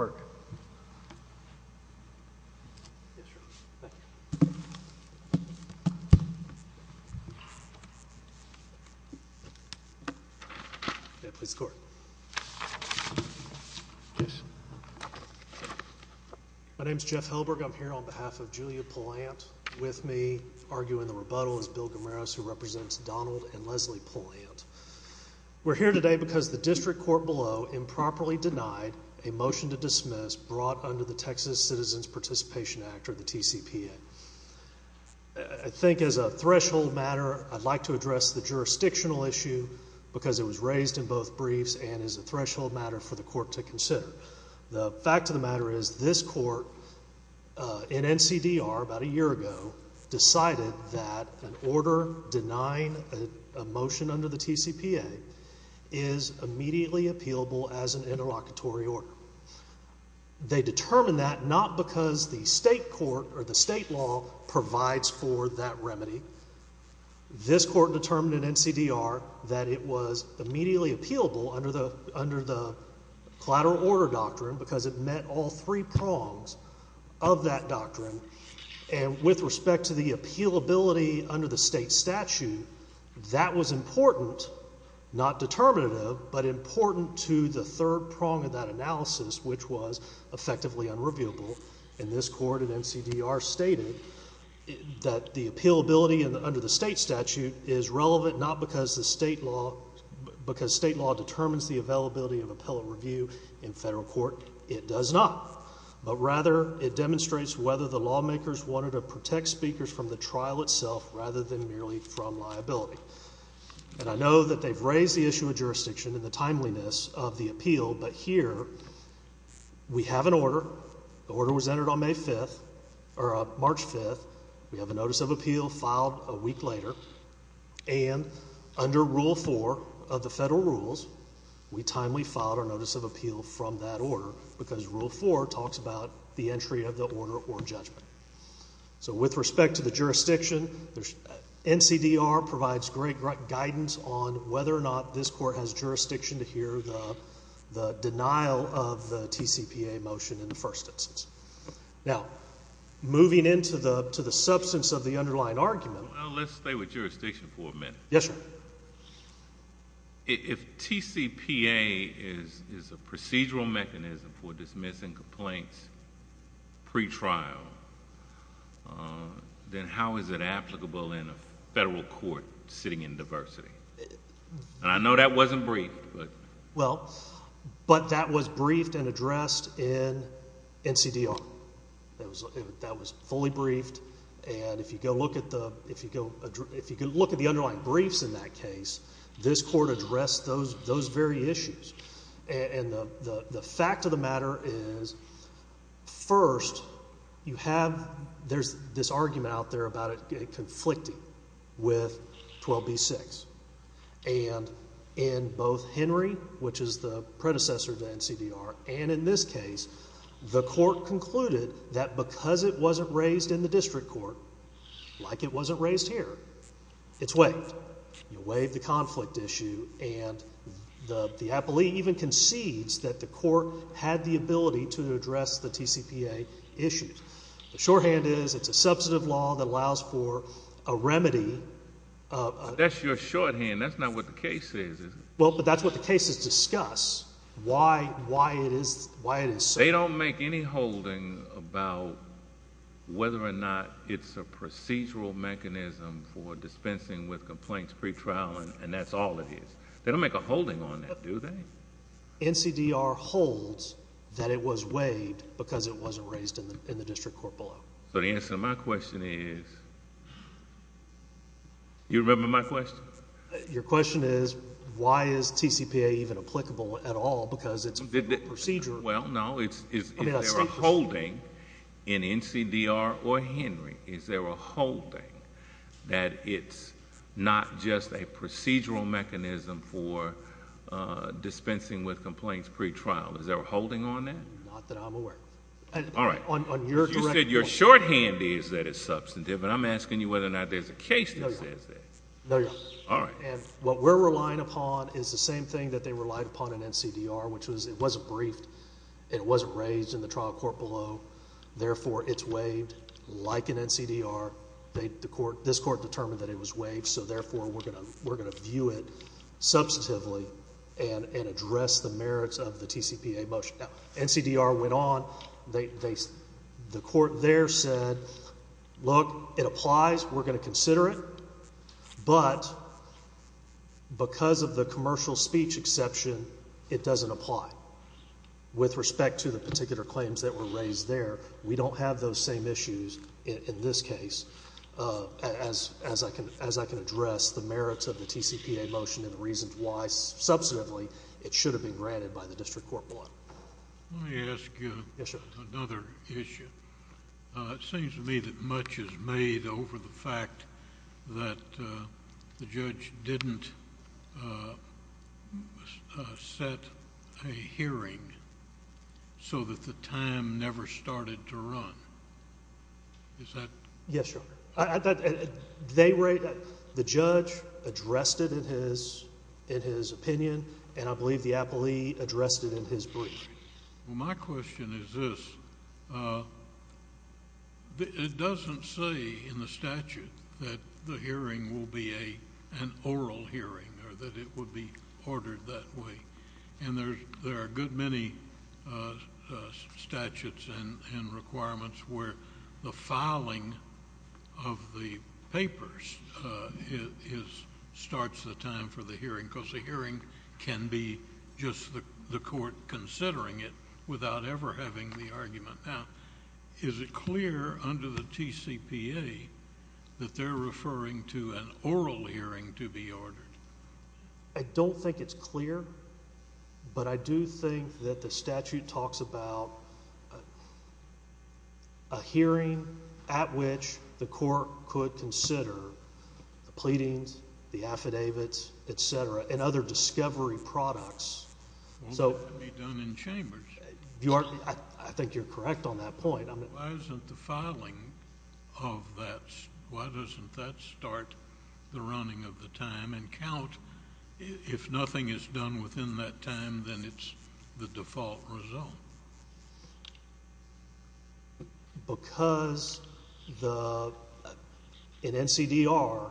I'm here on behalf of Julia Pylant with me arguing the rebuttal is Bill Guimaraes who represents Donald and Leslie Pylant. We're here today because the district court below improperly denied a motion to dismiss brought under the Texas Citizens Participation Act or the TCPA. I think as a threshold matter I'd like to address the jurisdictional issue because it was raised in both briefs and is a threshold matter for the court to consider. The fact of the matter is this court in NCDR about a year ago decided that an order denying a motion under the TCPA is immediately appealable as an interlocutory order. They determined that not because the state court or the state law provides for that remedy. This court determined in NCDR that it was immediately appealable under the collateral order doctrine because it met all three prongs of that doctrine and with respect to the appealability under the state statute, that was important, not determinative, but important to the third prong of that analysis which was effectively unreviewable and this court in NCDR stated that the appealability under the state statute is relevant not because the state law determines the availability of appellate review in federal court, it does not, but rather it demonstrates whether the lawmakers wanted to protect speakers from the trial itself rather than merely from liability. And I know that they've raised the issue of jurisdiction and the timeliness of the appeal, but here we have an order, the order was entered on May 5th, or March 5th, we have a notice of appeal filed a week later, and under Rule 4 of the federal rules, we timely filed our entry of the order or judgment. So with respect to the jurisdiction, NCDR provides great guidance on whether or not this court has jurisdiction to hear the denial of the TCPA motion in the first instance. Now, moving into the substance of the underlying argument. Well, let's stay with jurisdiction for a minute. Yes, sir. If TCPA is a procedural mechanism for dismissing complaints pre-trial, then how is it applicable in a federal court sitting in diversity? I know that wasn't briefed, but... Well, but that was briefed and addressed in NCDR. That was fully briefed, and if you go look at the underlying briefs in that case, this court addressed those very issues. And the fact of the matter is, first, you have... there's this argument out there about it conflicting with 12b-6, and in both Henry, which is the predecessor to NCDR, and in this case, the court concluded that because it wasn't raised in the district court, like it wasn't raised here, it's waived. You waive the conflict issue, and the appellee even concedes that the court had the ability to address the TCPA issues. The shorthand is, it's a substantive law that allows for a remedy... That's your shorthand. That's not what the case says, is it? Well, but that's what the cases discuss, why it is so. They don't make any holding about whether or not it's a procedural mechanism for dispensing with complaints pretrial, and that's all it is. They don't make a holding on that, do they? NCDR holds that it was waived because it wasn't raised in the district court below. So the answer to my question is... you remember my question? Your question is, why is TCPA even applicable at all, because it's a procedural... Well, no. Is there a holding in NCDR or Henry? Is there a holding that it's not just a procedural mechanism for dispensing with complaints pretrial? Is there a holding on that? Not that I'm aware of. All right. On your direct... You said your shorthand is that it's substantive, but I'm asking you whether or not there's a case that says that. No, Your Honor. All right. And what we're relying upon is the same thing that they relied upon in NCDR, which was it wasn't briefed and it wasn't raised in the trial court below. Therefore it's waived like in NCDR. This court determined that it was waived, so therefore we're going to view it substantively and address the merits of the TCPA motion. Now, NCDR went on. They... the court there said, look, it applies, we're going to consider it, but because of the commercial speech exception, it doesn't apply. With respect to the particular claims that were raised there, we don't have those same issues in this case as I can address the merits of the TCPA motion and the reasons why, substantively, it should have been granted by the district court below. Let me ask you... Yes, Your Honor.... another issue. It seems to me that much is made over the fact that the judge didn't set a hearing so that the time never started to run. Is that... Yes, Your Honor. They were... the judge addressed it in his opinion and I believe the appellee addressed it in his brief. Well, my question is this. It doesn't say in the statute that the hearing will be an oral hearing or that it would be ordered that way. And there are a good many statutes and requirements where the filing of the papers starts the time for the hearing because the hearing can be just the court considering it without ever having the argument. Now, is it clear under the TCPA that they're referring to an oral hearing to be ordered? I don't think it's clear, but I do think that the statute talks about a hearing at which the court could consider the pleadings, the affidavits, et cetera, and other discovery products. So... Won't that be done in chambers? I think you're correct on that point. Why isn't the filing of that... why doesn't that start the running of the time and count? If nothing is done within that time, then it's the default result. Because the... in NCDR,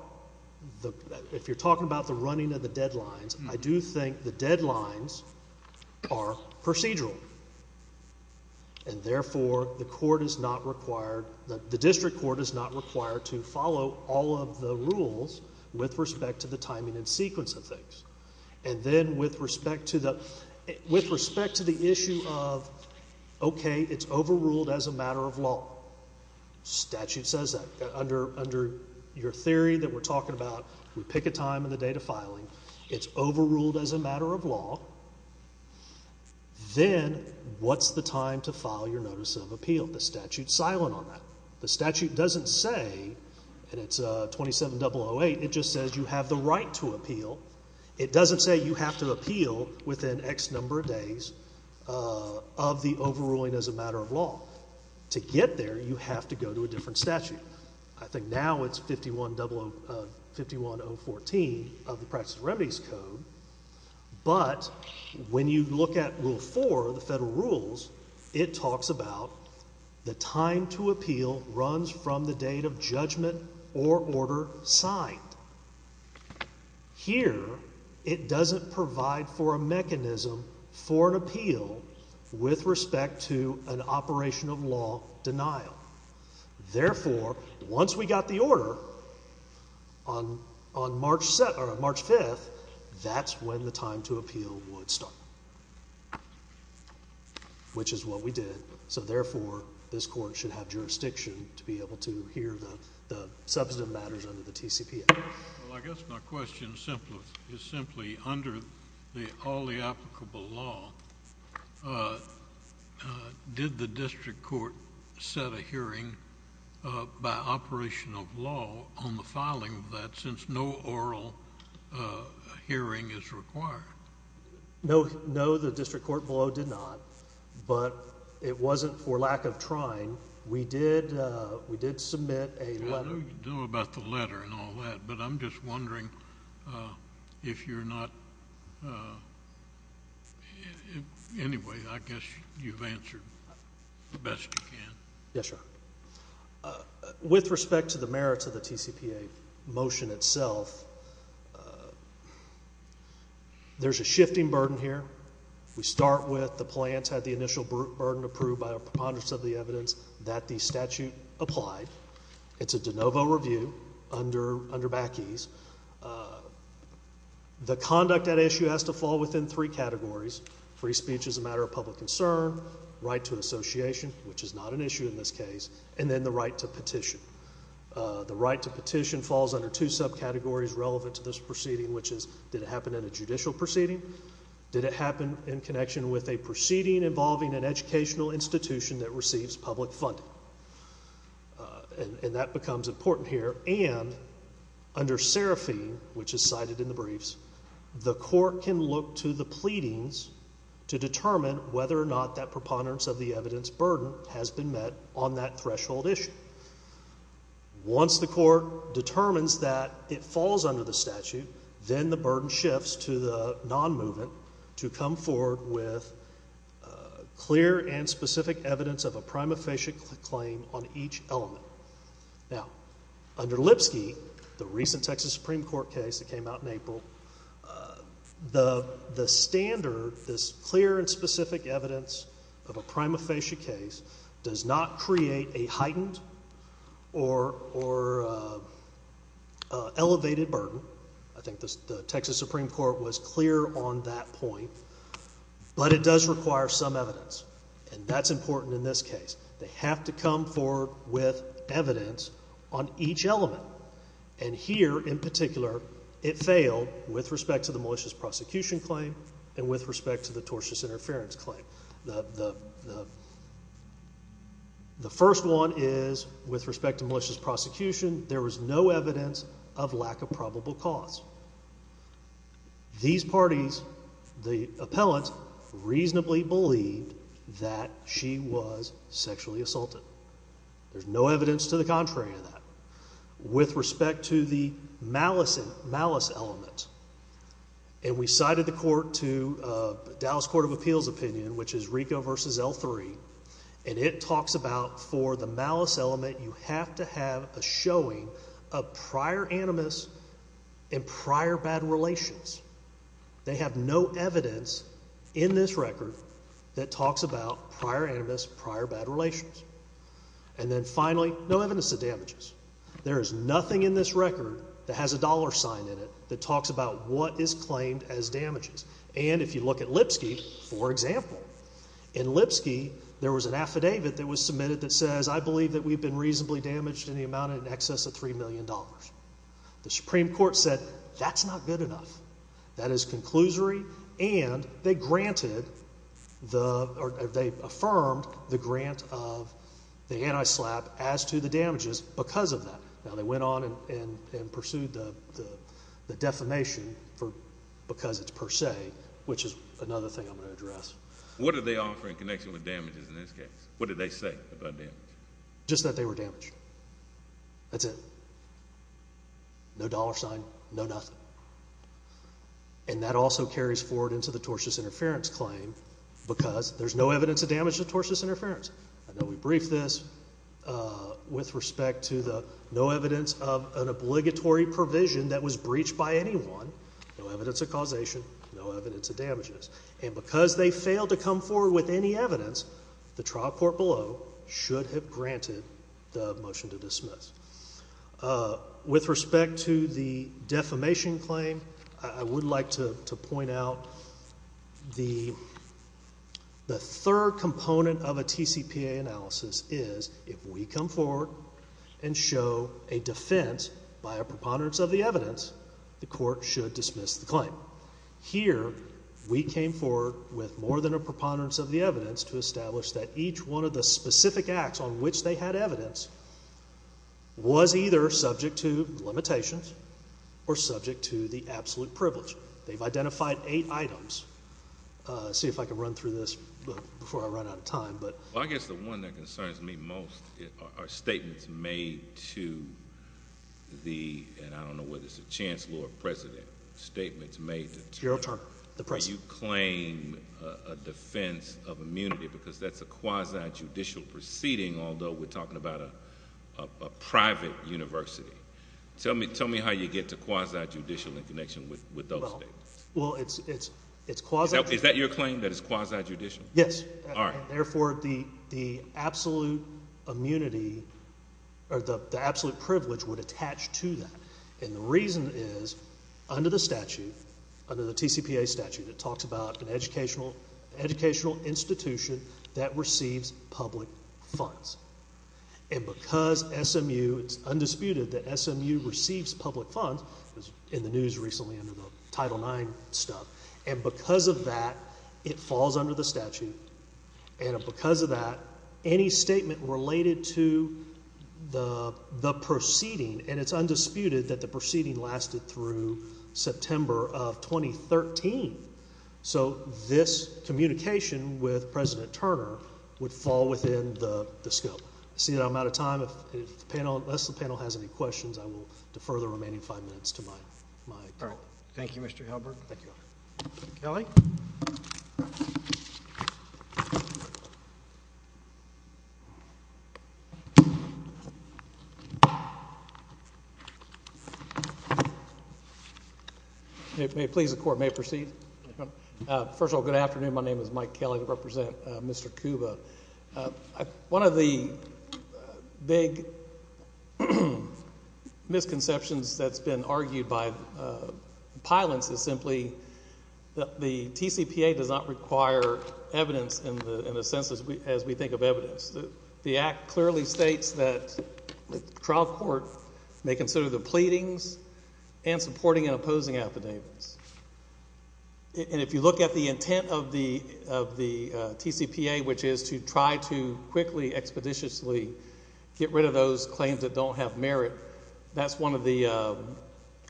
if you're talking about the running of the deadlines, I do think the deadlines are procedural. And therefore, the court is not required... the district court is not required to follow all of the rules with respect to the timing and sequence of things. And then with respect to the issue of, okay, it's overruled as a matter of law, statute says that. Under your theory that we're talking about, we pick a time in the date of filing, it's overruled as a matter of law, then what's the time to file your notice of appeal? The statute's silent on that. The statute doesn't say, and it's 27-008, it just says you have the right to appeal. It doesn't say you have to appeal within X number of days of the overruling as a matter of law. To get there, you have to go to a different statute. I think now it's 51-014 of the Practices and Remedies Code. But when you look at Rule 4, the federal rules, it talks about the time to appeal runs from the date of judgment or order signed. Here, it doesn't provide for a mechanism for an appeal with respect to an operation of law denial. Therefore, once we got the order on March 5th, that's when the time to appeal would start, which is what we did. So therefore, this court should have jurisdiction to be able to hear the substantive matters under the TCPA. Well, I guess my question is simply, under all the applicable law, did the district court set a hearing by operation of law on the filing of that since no oral hearing is required? No, the district court below did not, but it wasn't for lack of trying. We did submit a letter... I don't know about the letter and all that, but I'm just wondering if you're not... anyway, I guess you've answered the best you can. Yes, sir. With respect to the merits of the TCPA motion itself, there's a shifting burden here. We start with the plans had the initial burden approved by a preponderance of the evidence that the statute applied. It's a de novo review under back ease. The conduct at issue has to fall within three categories. Free speech is a matter of public concern, right to association, which is not an issue in this case, and then the right to petition. The right to petition falls under two subcategories relevant to this proceeding, which is, did it happen in a judicial proceeding? Did it happen in connection with a proceeding involving an educational institution that becomes important here, and under seraphine, which is cited in the briefs, the court can look to the pleadings to determine whether or not that preponderance of the evidence burden has been met on that threshold issue. Once the court determines that it falls under the statute, then the burden shifts to the non-movement to come forward with clear and specific evidence of a prima facie claim on each element. Now, under Lipsky, the recent Texas Supreme Court case that came out in April, the standard, this clear and specific evidence of a prima facie case does not create a heightened or elevated burden. I think the Texas Supreme Court was clear on that point, but it does require some evidence, and that's important in this case. They have to come forward with evidence on each element, and here in particular, it failed with respect to the malicious prosecution claim and with respect to the tortious interference claim. The first one is, with respect to malicious prosecution, there was no evidence of lack of probable cause. These parties, the appellant, reasonably believed that she was sexually assaulted. There's no evidence to the contrary of that. With respect to the malice element, and we cited the court to Dallas Court of Appeals opinion, which is RICO v. L3, and it talks about for the malice element, you have to have a showing of prior animus and prior bad relations. They have no evidence in this record that talks about prior animus, prior bad relations. And then finally, no evidence of damages. There is nothing in this record that has a dollar sign in it that talks about what is claimed as damages. And if you look at Lipsky, for example, in Lipsky, there was an affidavit that was submitted that says, I believe that we've been reasonably damaged in the amount in excess of $3 million. The Supreme Court said, that's not good enough. That is conclusory, and they granted the, or they affirmed the grant of the anti-SLAPP as to the damages because of that. Now, they went on and pursued the defamation for, because it's per se, which is another thing I'm going to address. What did they offer in connection with damages in this case? What did they say about damages? Just that they were damaged. That's it. No dollar sign, no nothing. And that also carries forward into the tortious interference claim because there's no evidence of damage to tortious interference. I know we briefed this with respect to the no evidence of an obligatory provision that was breached by anyone, no evidence of causation, no evidence of damages. And because they failed to come forward with any evidence, the trial court below should have granted the motion to dismiss. With respect to the defamation claim, I would like to point out the third component of a TCPA analysis is, if we come forward and show a defense by a preponderance of the evidence, the court should dismiss the claim. Here, we came forward with more than a preponderance of the evidence to establish that each one of the specific acts on which they had evidence was either subject to limitations or subject to the absolute privilege. They've identified eight items. See if I can run through this before I run out of time, but... Well, I guess the one that concerns me most are statements made to the, and I don't know whether it's a chancellor or president, statements made to... Gerald Tarkin, the president. Do you claim a defense of immunity because that's a quasi-judicial proceeding, although we're talking about a private university? Tell me how you get to quasi-judicial in connection with those statements. Well, it's quasi-judicial... Is that your claim, that it's quasi-judicial? Yes. All right. Therefore, the absolute immunity or the absolute privilege would attach to that, and the reason is under the statute, under the TCPA statute, it talks about an educational institution that receives public funds, and because SMU... it's undisputed that SMU receives public funds. It was in the news recently under the Title IX stuff, and because of that, it falls under the statute, and because of that, any statement related to the proceeding, and it's undisputed that the proceeding lasted through September of 2013. So this communication with President Turner would fall within the scope. I see that I'm out of time. Unless the panel has any questions, I will defer the remaining five minutes to my colleague. Thank you, Mr. Halberg. Thank you, Your Honor. Kelly? May it please the Court, may it proceed? First of all, good afternoon. My name is Mike Kelly. I represent Mr. Kuba. One of the big misconceptions that's been argued by pilots is simply that the TCPA does not require evidence in the sense as we think of evidence. The Act clearly states that the trial court may consider the pleadings and supporting and opposing affidavits. And if you look at the intent of the TCPA, which is to try to quickly, expeditiously get rid of those claims that don't have merit, that's one of the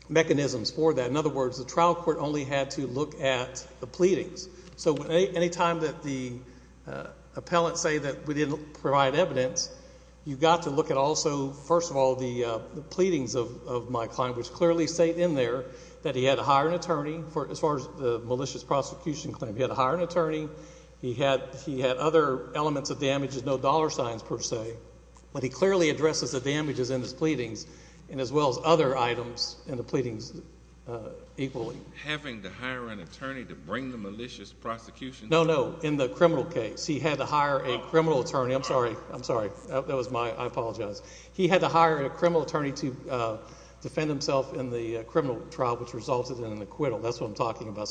mechanisms for that. In other words, the trial court only had to look at the pleadings. So any time that the appellants say that we didn't provide evidence, you've got to look at also, first of all, the pleadings of my client, which clearly state in there that he had to hire an attorney, as far as the malicious prosecution claim, he had to hire an attorney, he had other elements of damages, no dollar signs per se, but he clearly addresses the damages in his pleadings and as well as other items in the pleadings equally. Having to hire an attorney to bring the malicious prosecution... No, no. In the criminal case, he had to hire a criminal attorney. I'm sorry. I'm sorry. That was my... I apologize. He had to hire a criminal attorney to defend himself in the criminal trial, which resulted in an acquittal. That's what I'm talking about.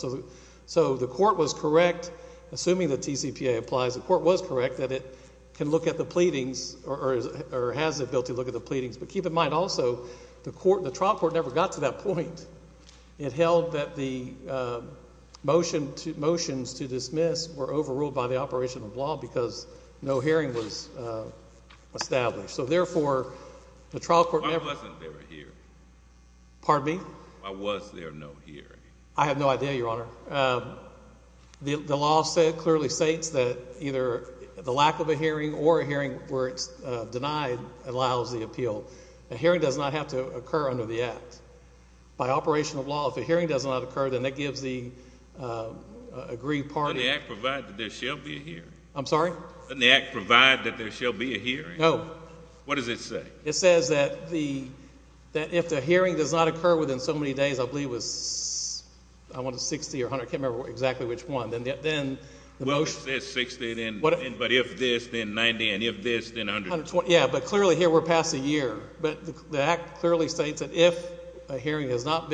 So the court was correct, assuming the TCPA applies, the court was correct that it can look at the pleadings or has the ability to look at the pleadings, but keep in mind also, the trial court never got to that point. It held that the motions to dismiss were overruled by the operation of law because no hearing was established. So therefore, the trial court... Why wasn't there a hearing? Pardon me? Why was there no hearing? I have no idea, Your Honor. The law clearly states that either the lack of a hearing or a hearing where it's denied allows the appeal. A hearing does not have to occur under the Act. By operation of law, if a hearing does not occur, then that gives the agreed party... Doesn't the Act provide that there shall be a hearing? I'm sorry? Doesn't the Act provide that there shall be a hearing? No. No. What does it say? It says that if the hearing does not occur within so many days, I believe it was, I want to 60 or 100, I can't remember exactly which one, then the motion... Well, it says 60, but if this, then 90, and if this, then 120. Yeah, but clearly here we're past the year, but the Act clearly states that if a hearing has not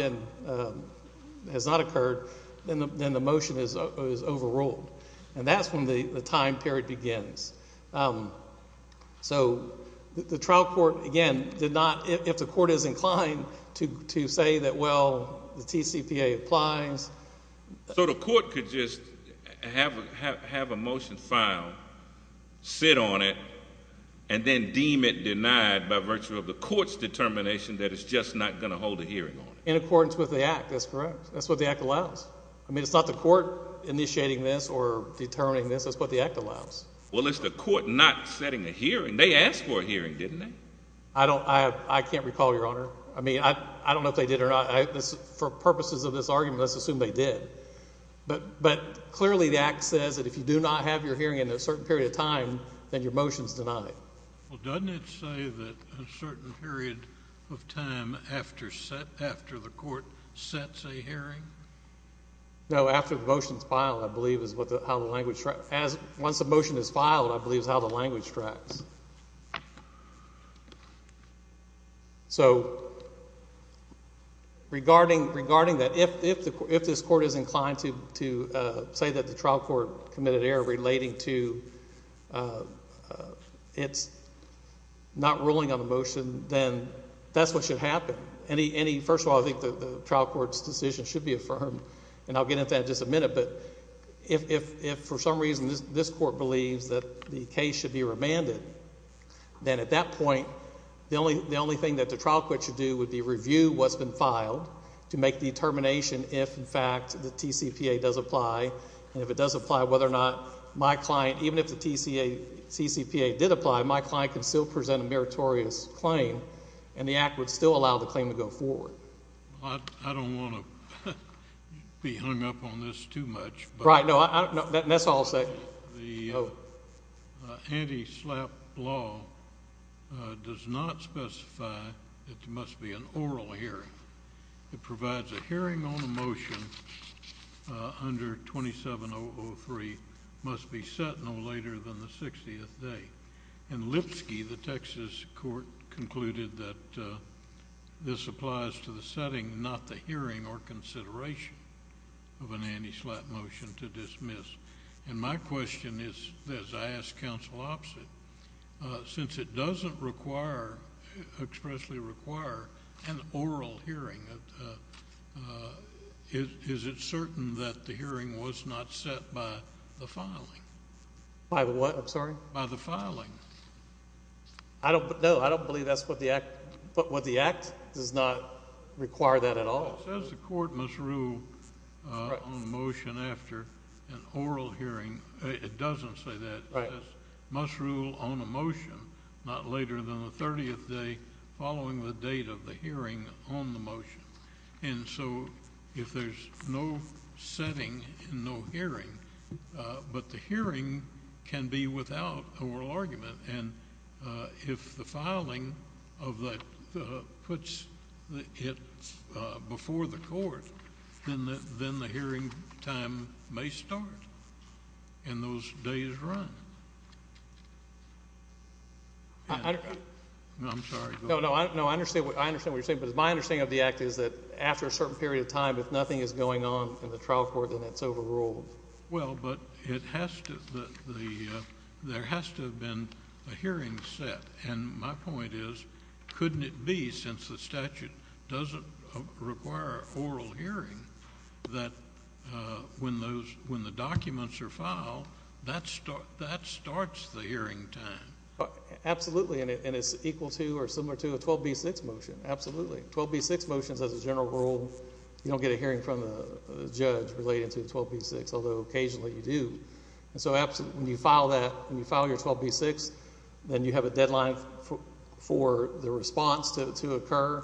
occurred, then the motion is overruled, and that's when the time period begins. So, the trial court, again, did not, if the court is inclined to say that, well, the TCPA applies... So, the court could just have a motion filed, sit on it, and then deem it denied by virtue of the court's determination that it's just not going to hold a hearing on it? In accordance with the Act. That's correct. That's what the Act allows. I mean, it's not the court initiating this or determining this. That's what the Act allows. Well, it's the court not setting a hearing. They asked for a hearing, didn't they? I don't... I can't recall, Your Honor. I mean, I don't know if they did or not. For purposes of this argument, let's assume they did. But clearly the Act says that if you do not have your hearing in a certain period of time, then your motion is denied. Well, doesn't it say that a certain period of time after the court sets a hearing? No, after the motion is filed, I believe, is how the language... Once a motion is filed, I believe, is how the language tracks. So regarding that, if this court is inclined to say that the trial court committed error relating to its not ruling on a motion, then that's what should happen. First of all, I think the trial court's decision should be affirmed, and I'll get into that question. If this court believes that the case should be remanded, then at that point, the only thing that the trial court should do would be review what's been filed to make the determination if, in fact, the TCPA does apply, and if it does apply, whether or not my client... even if the TCPA did apply, my client could still present a meritorious claim, and the Act would still allow the claim to go forward. I don't want to be hung up on this too much, but... Right. No. That's all I'll say. The anti-SLAPP law does not specify that there must be an oral hearing. It provides a hearing on a motion under 27-003 must be set no later than the 60th day. In Lipsky, the Texas court concluded that this applies to the setting, not the hearing or consideration of an anti-SLAPP motion to dismiss. And my question is, as I ask counsel opposite, since it doesn't require, expressly require, an oral hearing, is it certain that the hearing was not set by the filing? By what? I'm sorry? By the filing. I don't... no, I don't believe that's what the Act... what the Act does not require that at all. Well, it says the court must rule on a motion after an oral hearing. It doesn't say that. Right. It says must rule on a motion not later than the 30th day following the date of the hearing on the motion. And so if there's no setting and no hearing, but the hearing can be without oral argument. And if the filing of the... puts it before the court, then the hearing time may start and those days run. I don't... I'm sorry. No, no, I understand what you're saying, but my understanding of the Act is that after a certain period of time, if nothing is going on in the trial court, then it's overruled. Well, but it has to... there has to have been a hearing set, and my point is, couldn't it be, since the statute doesn't require oral hearing, that when those... when the documents are filed, that starts the hearing time? Absolutely, and it's equal to or similar to a 12b6 motion. Absolutely. 12b6 motions, as a general rule, you don't get a hearing from a judge relating to 12b6, although occasionally you do. So when you file that, when you file your 12b6, then you have a deadline for the response to occur,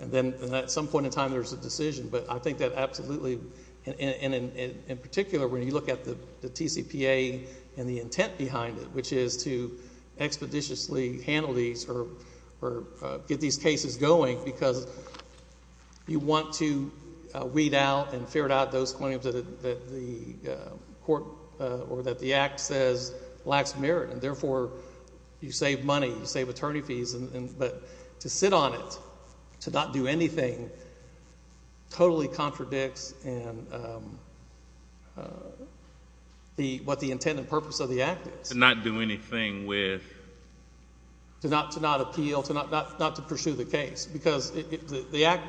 and then at some point in time there's a decision. But I think that absolutely... and in particular, when you look at the TCPA and the intent behind it, which is to expeditiously handle these or get these cases going because you want to weed out and ferret out those claims that the court or that the Act says lacks merit, and therefore you save money, you save attorney fees, but to sit on it, to not do anything, totally contradicts what the intent and purpose of the Act is. To not do anything with... To not appeal, not to pursue the case because the Act...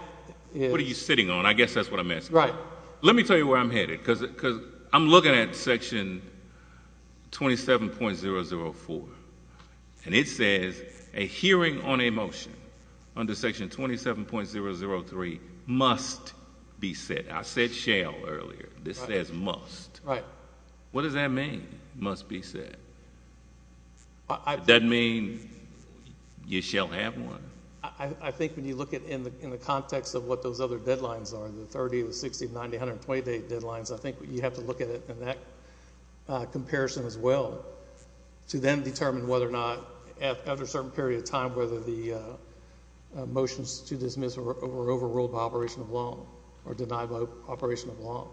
What are you sitting on? I guess that's what I'm asking. Right. Let me tell you where I'm headed, because I'm looking at Section 27.004, and it says a hearing on a motion under Section 27.003 must be set. I said shall earlier. This says must. Right. What does that mean, must be set? That mean you shall have one? I think when you look at it in the context of what those other deadlines are, the 30, the 60, the 90, the 128 deadlines, I think you have to look at it in that comparison as well to then determine whether or not, after a certain period of time, whether the motions to dismiss were overruled by operation of law or denied by operation of law.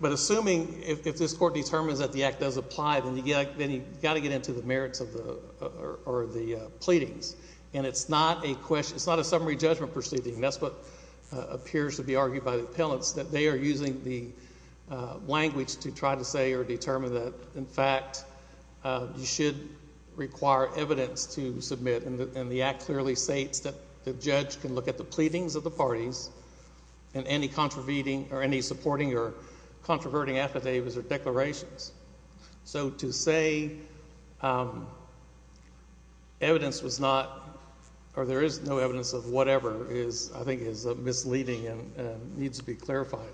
But assuming, if this Court determines that the Act does apply, then you've got to get into the merits of the... or the pleadings. And it's not a question... it's not a summary judgment proceeding. That's what appears to be argued by the appellants, that they are using the language to try to say or determine that, in fact, you should require evidence to submit, and the Act clearly states that the judge can look at the pleadings of the parties and any supporting or controverting affidavits or declarations. So to say evidence was not, or there is no evidence of whatever, is, I think, is misleading and needs to be clarified.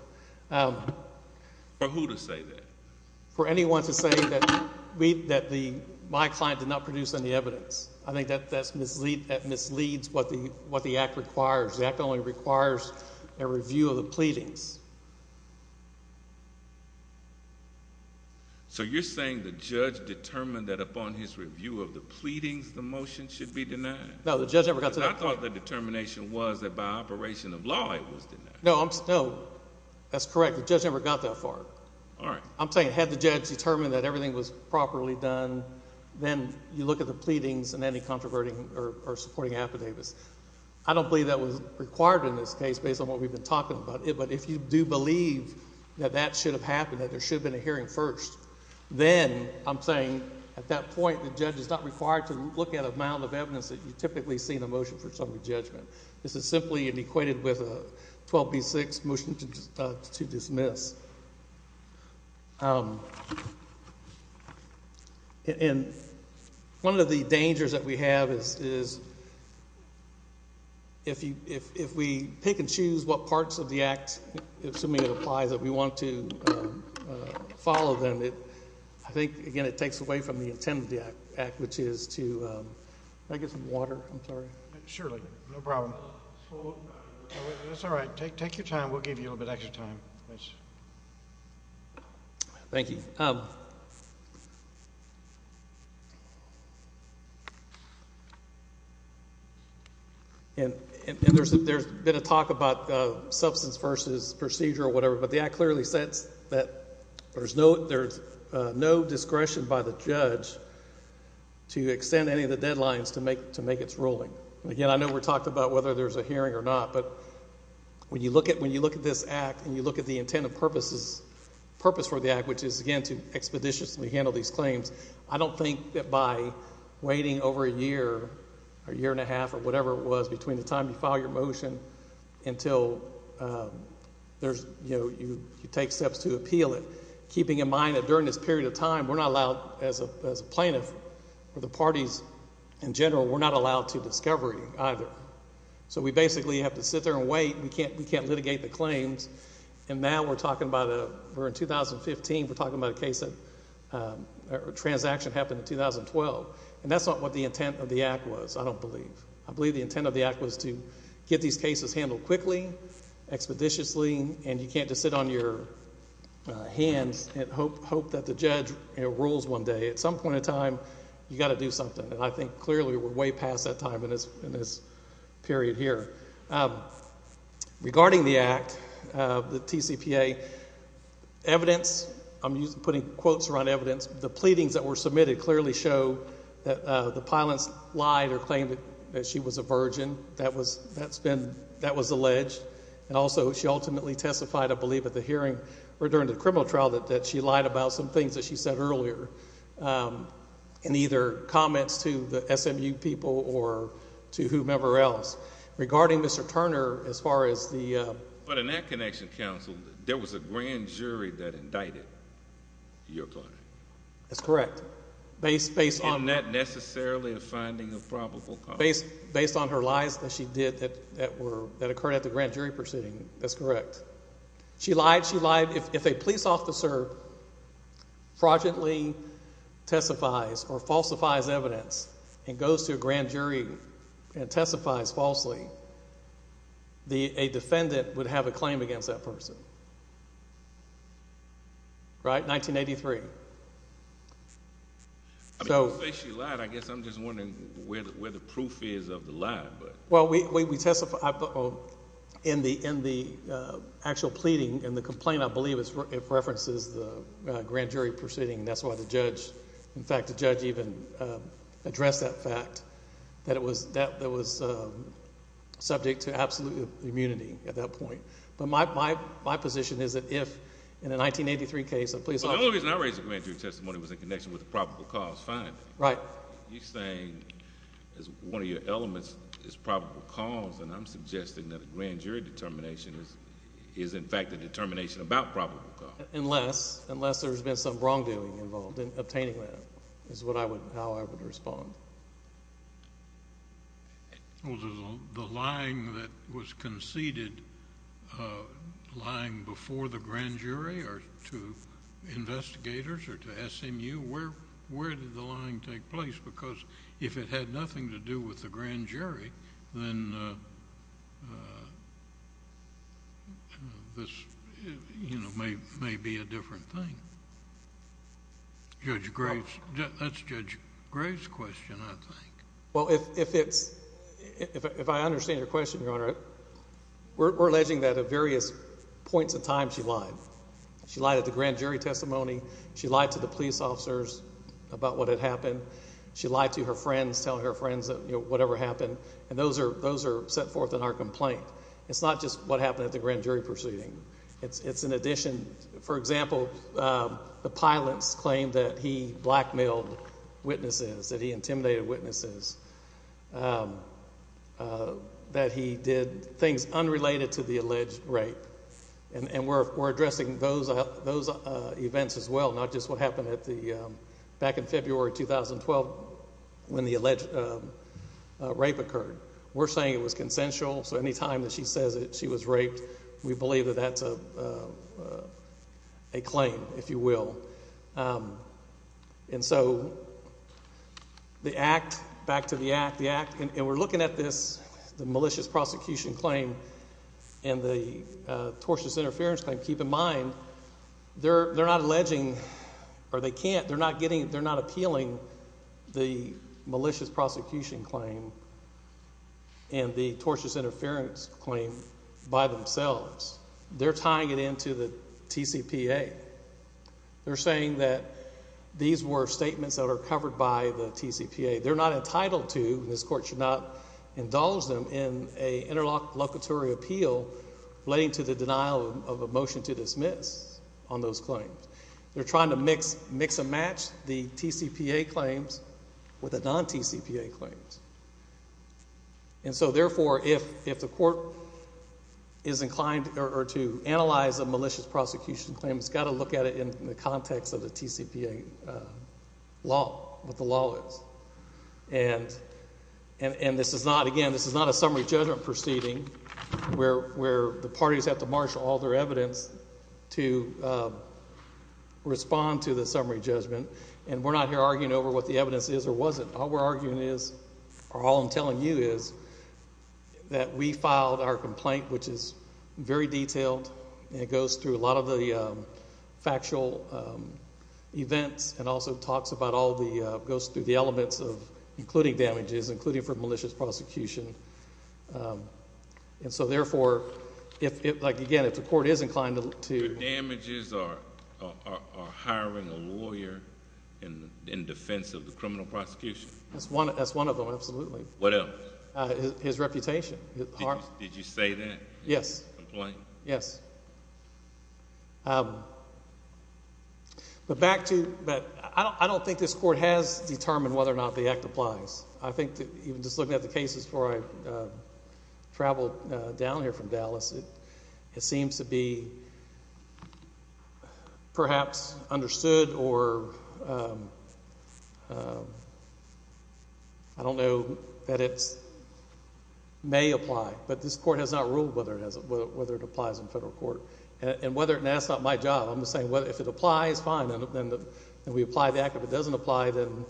For who to say that? For anyone to say that my client did not produce any evidence. I think that misleads what the Act requires. The Act only requires a review of the pleadings. So you're saying the judge determined that, upon his review of the pleadings, the motion should be denied? No. The judge never got to that point. Because I thought the determination was that, by operation of law, it was denied. No. That's correct. The judge never got that far. All right. I'm saying, had the judge determined that everything was properly done, then you look at the pleadings and any controverting or supporting affidavits. I don't believe that was required in this case, based on what we've been talking about. But if you do believe that that should have happened, that there should have been a hearing first, then I'm saying, at that point, the judge is not required to look at a mound of evidence that you typically see in a motion for summary judgment. This is simply equated with a 12B-6, motion to dismiss. And one of the dangers that we have is, if we pick and choose what parts of the Act, assuming it applies, that we want to follow them, I think, again, it takes away from the intent of the Act, which is to—can I get some water? I'm sorry. Sure. No problem. That's all right. Take your time. We'll give you a little bit extra time. Thanks. Thank you. And there's been a talk about substance versus procedure or whatever, but the Act clearly says that there's no discretion by the judge to extend any of the deadlines to make its ruling. And again, I know we talked about whether there's a hearing or not, but when you look at this Act and you look at the intent and purpose for the Act, which is, again, to expeditiously handle these claims, I don't think that by waiting over a year or a year and a half or whatever it was between the time you file your motion until there's—you take steps to appeal it, keeping in mind that during this period of time, we're not allowed, as a discovery, either. So we basically have to sit there and wait. We can't litigate the claims. And now we're talking about—we're in 2015, we're talking about a case of—a transaction happened in 2012. And that's not what the intent of the Act was, I don't believe. I believe the intent of the Act was to get these cases handled quickly, expeditiously, and you can't just sit on your hands and hope that the judge rules one day. At some point in time, you've got to do something, and I think clearly we're way past that time in this period here. Regarding the Act, the TCPA, evidence—I'm putting quotes around evidence—the pleadings that were submitted clearly show that the pilots lied or claimed that she was a virgin. That was—that's been—that was alleged. And also, she ultimately testified, I believe, at the hearing or during the criminal trial that she lied about some things that she said earlier in either comments to the SMU people or to whomever else. Regarding Mr. Turner, as far as the— But in that connection, counsel, there was a grand jury that indicted your client. That's correct. Based on— And not necessarily a finding of probable cause. Based on her lies that she did that occurred at the grand jury proceeding, that's correct. She lied. She lied. If a police officer fraudulently testifies or falsifies evidence and goes to a grand jury and testifies falsely, a defendant would have a claim against that person. Right? 1983. I mean, you say she lied, I guess I'm just wondering where the proof is of the lie, but— Well, we testified—in the actual pleading, in the complaint, I believe, it references the grand jury proceeding, and that's why the judge—in fact, the judge even addressed that fact, that it was subject to absolute immunity at that point. But my position is that if, in a 1983 case, a police officer— Well, the only reason I raised the grand jury testimony was in connection with the probable cause finding. Right. You're saying one of your elements is probable cause, and I'm suggesting that a grand jury determination is, in fact, a determination about probable cause. Unless there's been some wrongdoing involved in obtaining that, is how I would respond. The lying that was conceded, lying before the grand jury or to investigators or to SMU, where did the lying take place? Because if it had nothing to do with the grand jury, then this, you know, may be a different thing. Judge Graves—that's Judge Graves' question, I think. Well, if it's—if I understand your question, Your Honor, we're alleging that at various points in time she lied. She lied at the grand jury testimony. She lied to the police officers about what had happened. She lied to her friends, telling her friends that, you know, whatever happened. And those are—those are set forth in our complaint. It's not just what happened at the grand jury proceeding. It's in addition—for example, the pilot's claim that he blackmailed witnesses, that he intimidated witnesses, that he did things unrelated to the alleged rape. And we're addressing those events as well, not just what happened at the—back in February 2012 when the alleged rape occurred. We're saying it was consensual, so any time that she says that she was raped, we believe that that's a claim, if you will. And so the act—back to the act—the act—and we're looking at this, the malicious prosecution claim and the tortious interference claim. Keep in mind, they're not alleging—or they can't—they're not getting—they're not appealing the malicious prosecution claim and the tortious interference claim by themselves. They're tying it into the TCPA. They're saying that these were statements that are covered by the TCPA. They're not entitled to—and this Court should not indulge them in an interlocutory appeal relating to the denial of a motion to dismiss on those claims. They're trying to mix and match the TCPA claims with the non-TCPA claims. And so therefore, if the Court is inclined to analyze a malicious prosecution claim, it's got to look at it in the context of the TCPA law, what the law is. And this is not—again, this is not a summary judgment proceeding where the parties have to marshal all their evidence to respond to the summary judgment. And we're not here arguing over what the evidence is or wasn't. All we're arguing is—or all I'm telling you is—that we filed our complaint, which is very detailed, and it goes through a lot of the factual events and also talks about all the—goes through the elements of including damages, including for malicious prosecution. And so therefore, if—like, again, if the Court is inclined to— The damages are hiring a lawyer in defense of the criminal prosecution? That's one of them, absolutely. What else? His reputation. Did you say that? Yes. Complaint? Yes. But back to—I don't think this Court has determined whether or not the Act applies. I think that even just looking at the cases before I traveled down here from Dallas, it seems to be perhaps understood or I don't know that it may apply. But this Court has not ruled whether it has—whether it applies in federal court. And whether—and that's not my job. I'm just saying, well, if it applies, fine, then we apply the Act. If it doesn't apply, then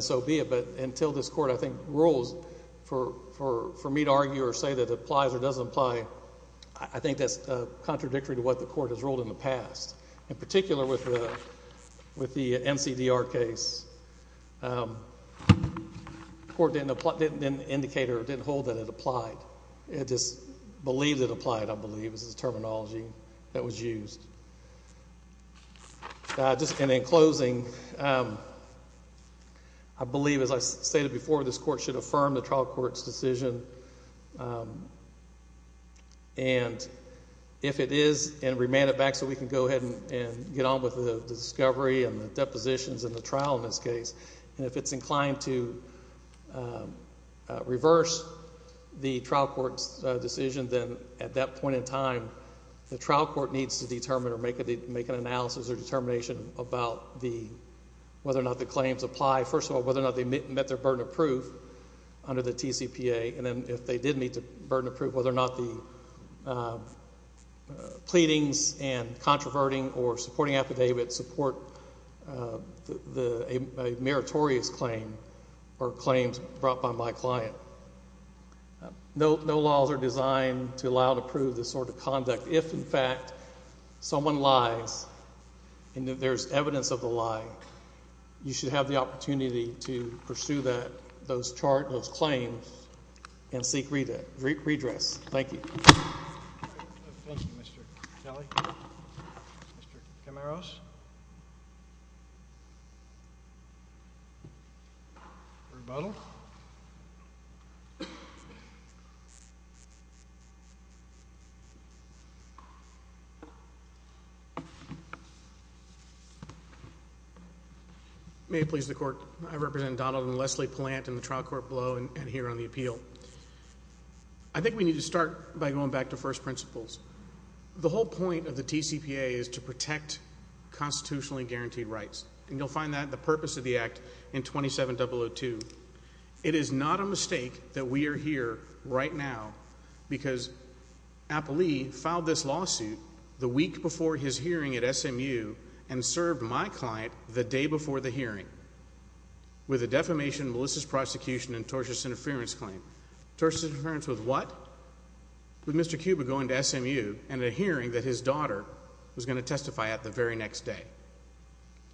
so be it. But until this Court, I think, rules for me to argue or say that it applies or doesn't apply, I think that's contradictory to what the Court has ruled in the past, in particular with the NCDR case. The Court didn't indicate or didn't hold that it applied. It just believed it applied, I believe, is the terminology that was used. And in closing, I believe, as I stated before, this Court should affirm the trial court's decision. And if it is, and remand it back so we can go ahead and get on with the discovery and the depositions and the trial in this case. And if it's inclined to reverse the trial court's decision, then at that point in time, the trial court needs to determine or make an analysis or determination about the—whether or not the claims apply. First of all, whether or not they met their burden of proof under the TCPA. And then if they did meet the burden of proof, whether or not the pleadings and controverting or supporting affidavits support a meritorious claim or claims brought by my client. No laws are designed to allow and approve this sort of conduct. But if, in fact, someone lies and there's evidence of the lie, you should have the opportunity to pursue that, those charts, those claims, and seek redress. Thank you. Thank you, Mr. Kelly. Mr. Camaros. Rebuttal. May it please the Court, I represent Donald and Leslie Palant in the trial court below and here on the appeal. I think we need to start by going back to first principles. The whole point of the TCPA is to protect constitutionally guaranteed rights, and you'll find that in the purpose of the Act in 27.002. It is not a mistake that we are here right now because Applee filed this lawsuit the week before his hearing at SMU and served my client the day before the hearing with a defamation, malicious prosecution, and tortious interference claim. Tortious interference with what? With Mr. Cuba going to SMU and a hearing that his daughter was going to testify at the very next day.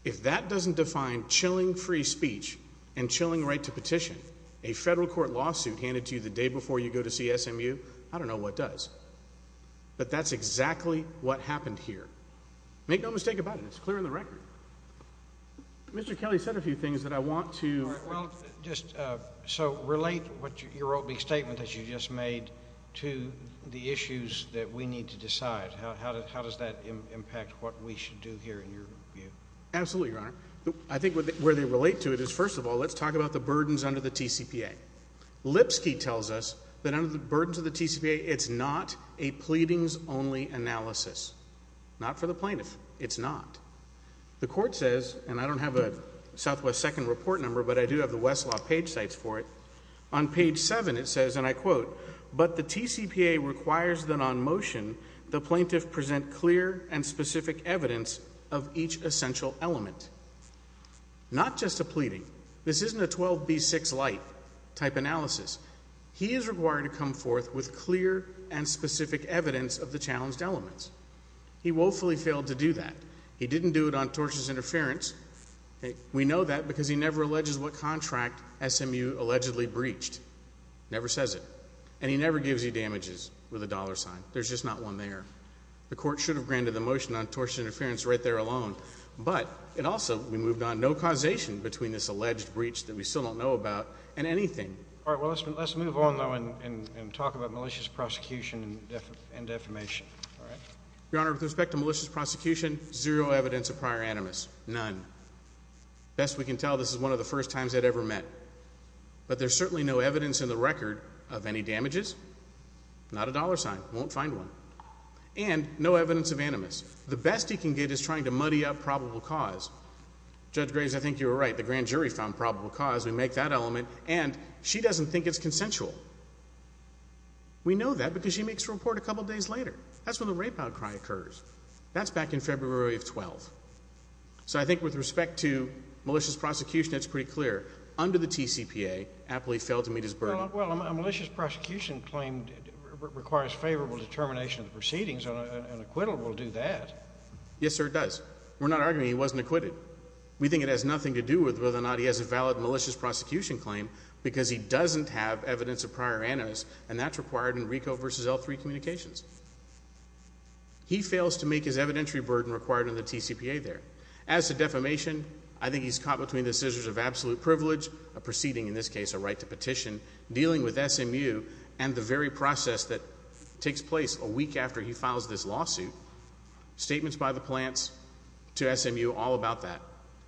If that doesn't define chilling free speech and chilling right to petition, a federal court lawsuit handed to you the day before you go to see SMU, I don't know what does. But that's exactly what happened here. Make no mistake about it. It's clear in the record. Mr. Kelly said a few things that I want to... Well, just so relate what your statement that you just made to the issues that we need to decide. How does that impact what we should do here in your view? Absolutely, Your Honor. I think where they relate to it is, first of all, let's talk about the burdens under the TCPA. Lipsky tells us that under the burdens of the TCPA, it's not a pleadings only analysis. Not for the plaintiff. It's not. The court says, and I don't have a Southwest Second Report number, but I do have the Westlaw page sites for it. On page seven, it says, and I quote, but the TCPA requires that on motion, the plaintiff present clear and specific evidence of each essential element. Not just a pleading. This isn't a 12B6 light type analysis. He is required to come forth with clear and specific evidence of the challenged elements. He woefully failed to do that. He didn't do it on tortious interference. We know that because he never alleges what contract SMU allegedly breached. Never says it. And he never gives you damages with a dollar sign. There's just not one there. The court should have granted the motion on tortious interference right there alone. But it also, we moved on, no causation between this alleged breach that we still don't know about and anything. All right. Well, let's move on though and talk about malicious prosecution and defamation. All right. Your Honor, with respect to malicious prosecution, zero evidence of prior animus. None. Best we can tell, this is one of the first times they'd ever met. But there's certainly no evidence in the record of any damages. Not a dollar sign. Won't find one. And no evidence of animus. The best he can get is trying to muddy up probable cause. Judge Graves, I think you were right. The grand jury found probable cause. We make that element. And she doesn't think it's consensual. We know that because she makes a report a couple days later. That's when the rape outcry occurs. That's back in February of 12. So I think with respect to malicious prosecution, it's pretty clear. Under the TCPA, Apley failed to meet his burden. Well, a malicious prosecution claim requires favorable determination of the proceedings. An acquittal will do that. Yes, sir, it does. We're not arguing he wasn't acquitted. We think it has nothing to do with whether or not he has a valid malicious prosecution claim because he doesn't have evidence of prior animus. And that's required in RICO v. L3 communications. He fails to make his evidentiary burden required in the TCPA there. As to defamation, I think he's caught between the scissors of absolute privilege, a proceeding, in this case, a right to petition, dealing with SMU and the very process that takes place a week after he files this lawsuit, statements by the plants to SMU all about that.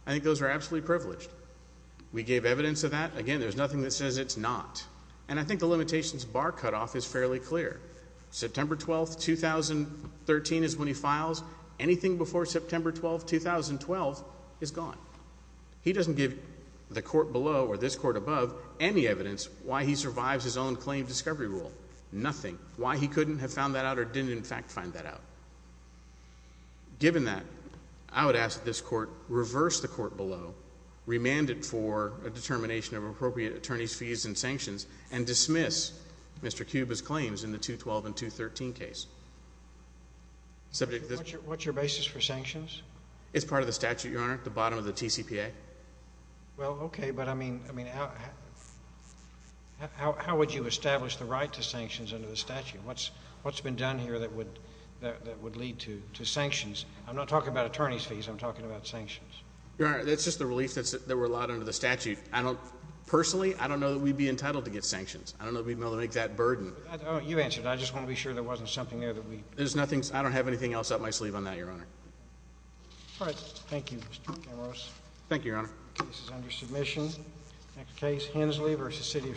I think those are absolutely privileged. We gave evidence of that. Again, there's nothing that says it's not. And I think the limitations bar cutoff is fairly clear. September 12, 2013 is when he files. Anything before September 12, 2012 is gone. He doesn't give the court below or this court above any evidence why he survives his own claim discovery rule. Nothing. Why he couldn't have found that out or didn't, in fact, find that out. Given that, I would ask that this court reverse the court below, remand it for a determination of appropriate attorney's fees and sanctions, and dismiss Mr. Cuba's claims in the 212 and 213 case. What's your basis for sanctions? It's part of the statute, Your Honor, at the bottom of the TCPA. Well, okay, but I mean, how would you establish the right to sanctions under the statute? What's been done here that would lead to sanctions? I'm not talking about attorney's fees. I'm talking about sanctions. Your Honor, that's just the relief that were allowed under the statute. Personally, I don't know that we'd be entitled to get sanctions. I don't know that we'd be able to make that burden. You answer it. I just want to be sure there wasn't something there that we... There's nothing. I don't have anything else up my sleeve on that, Your Honor. All right. Thank you, Mr. Camarosa. Thank you, Your Honor. This is under submission. Next case, Hensley v. City of Shreveport.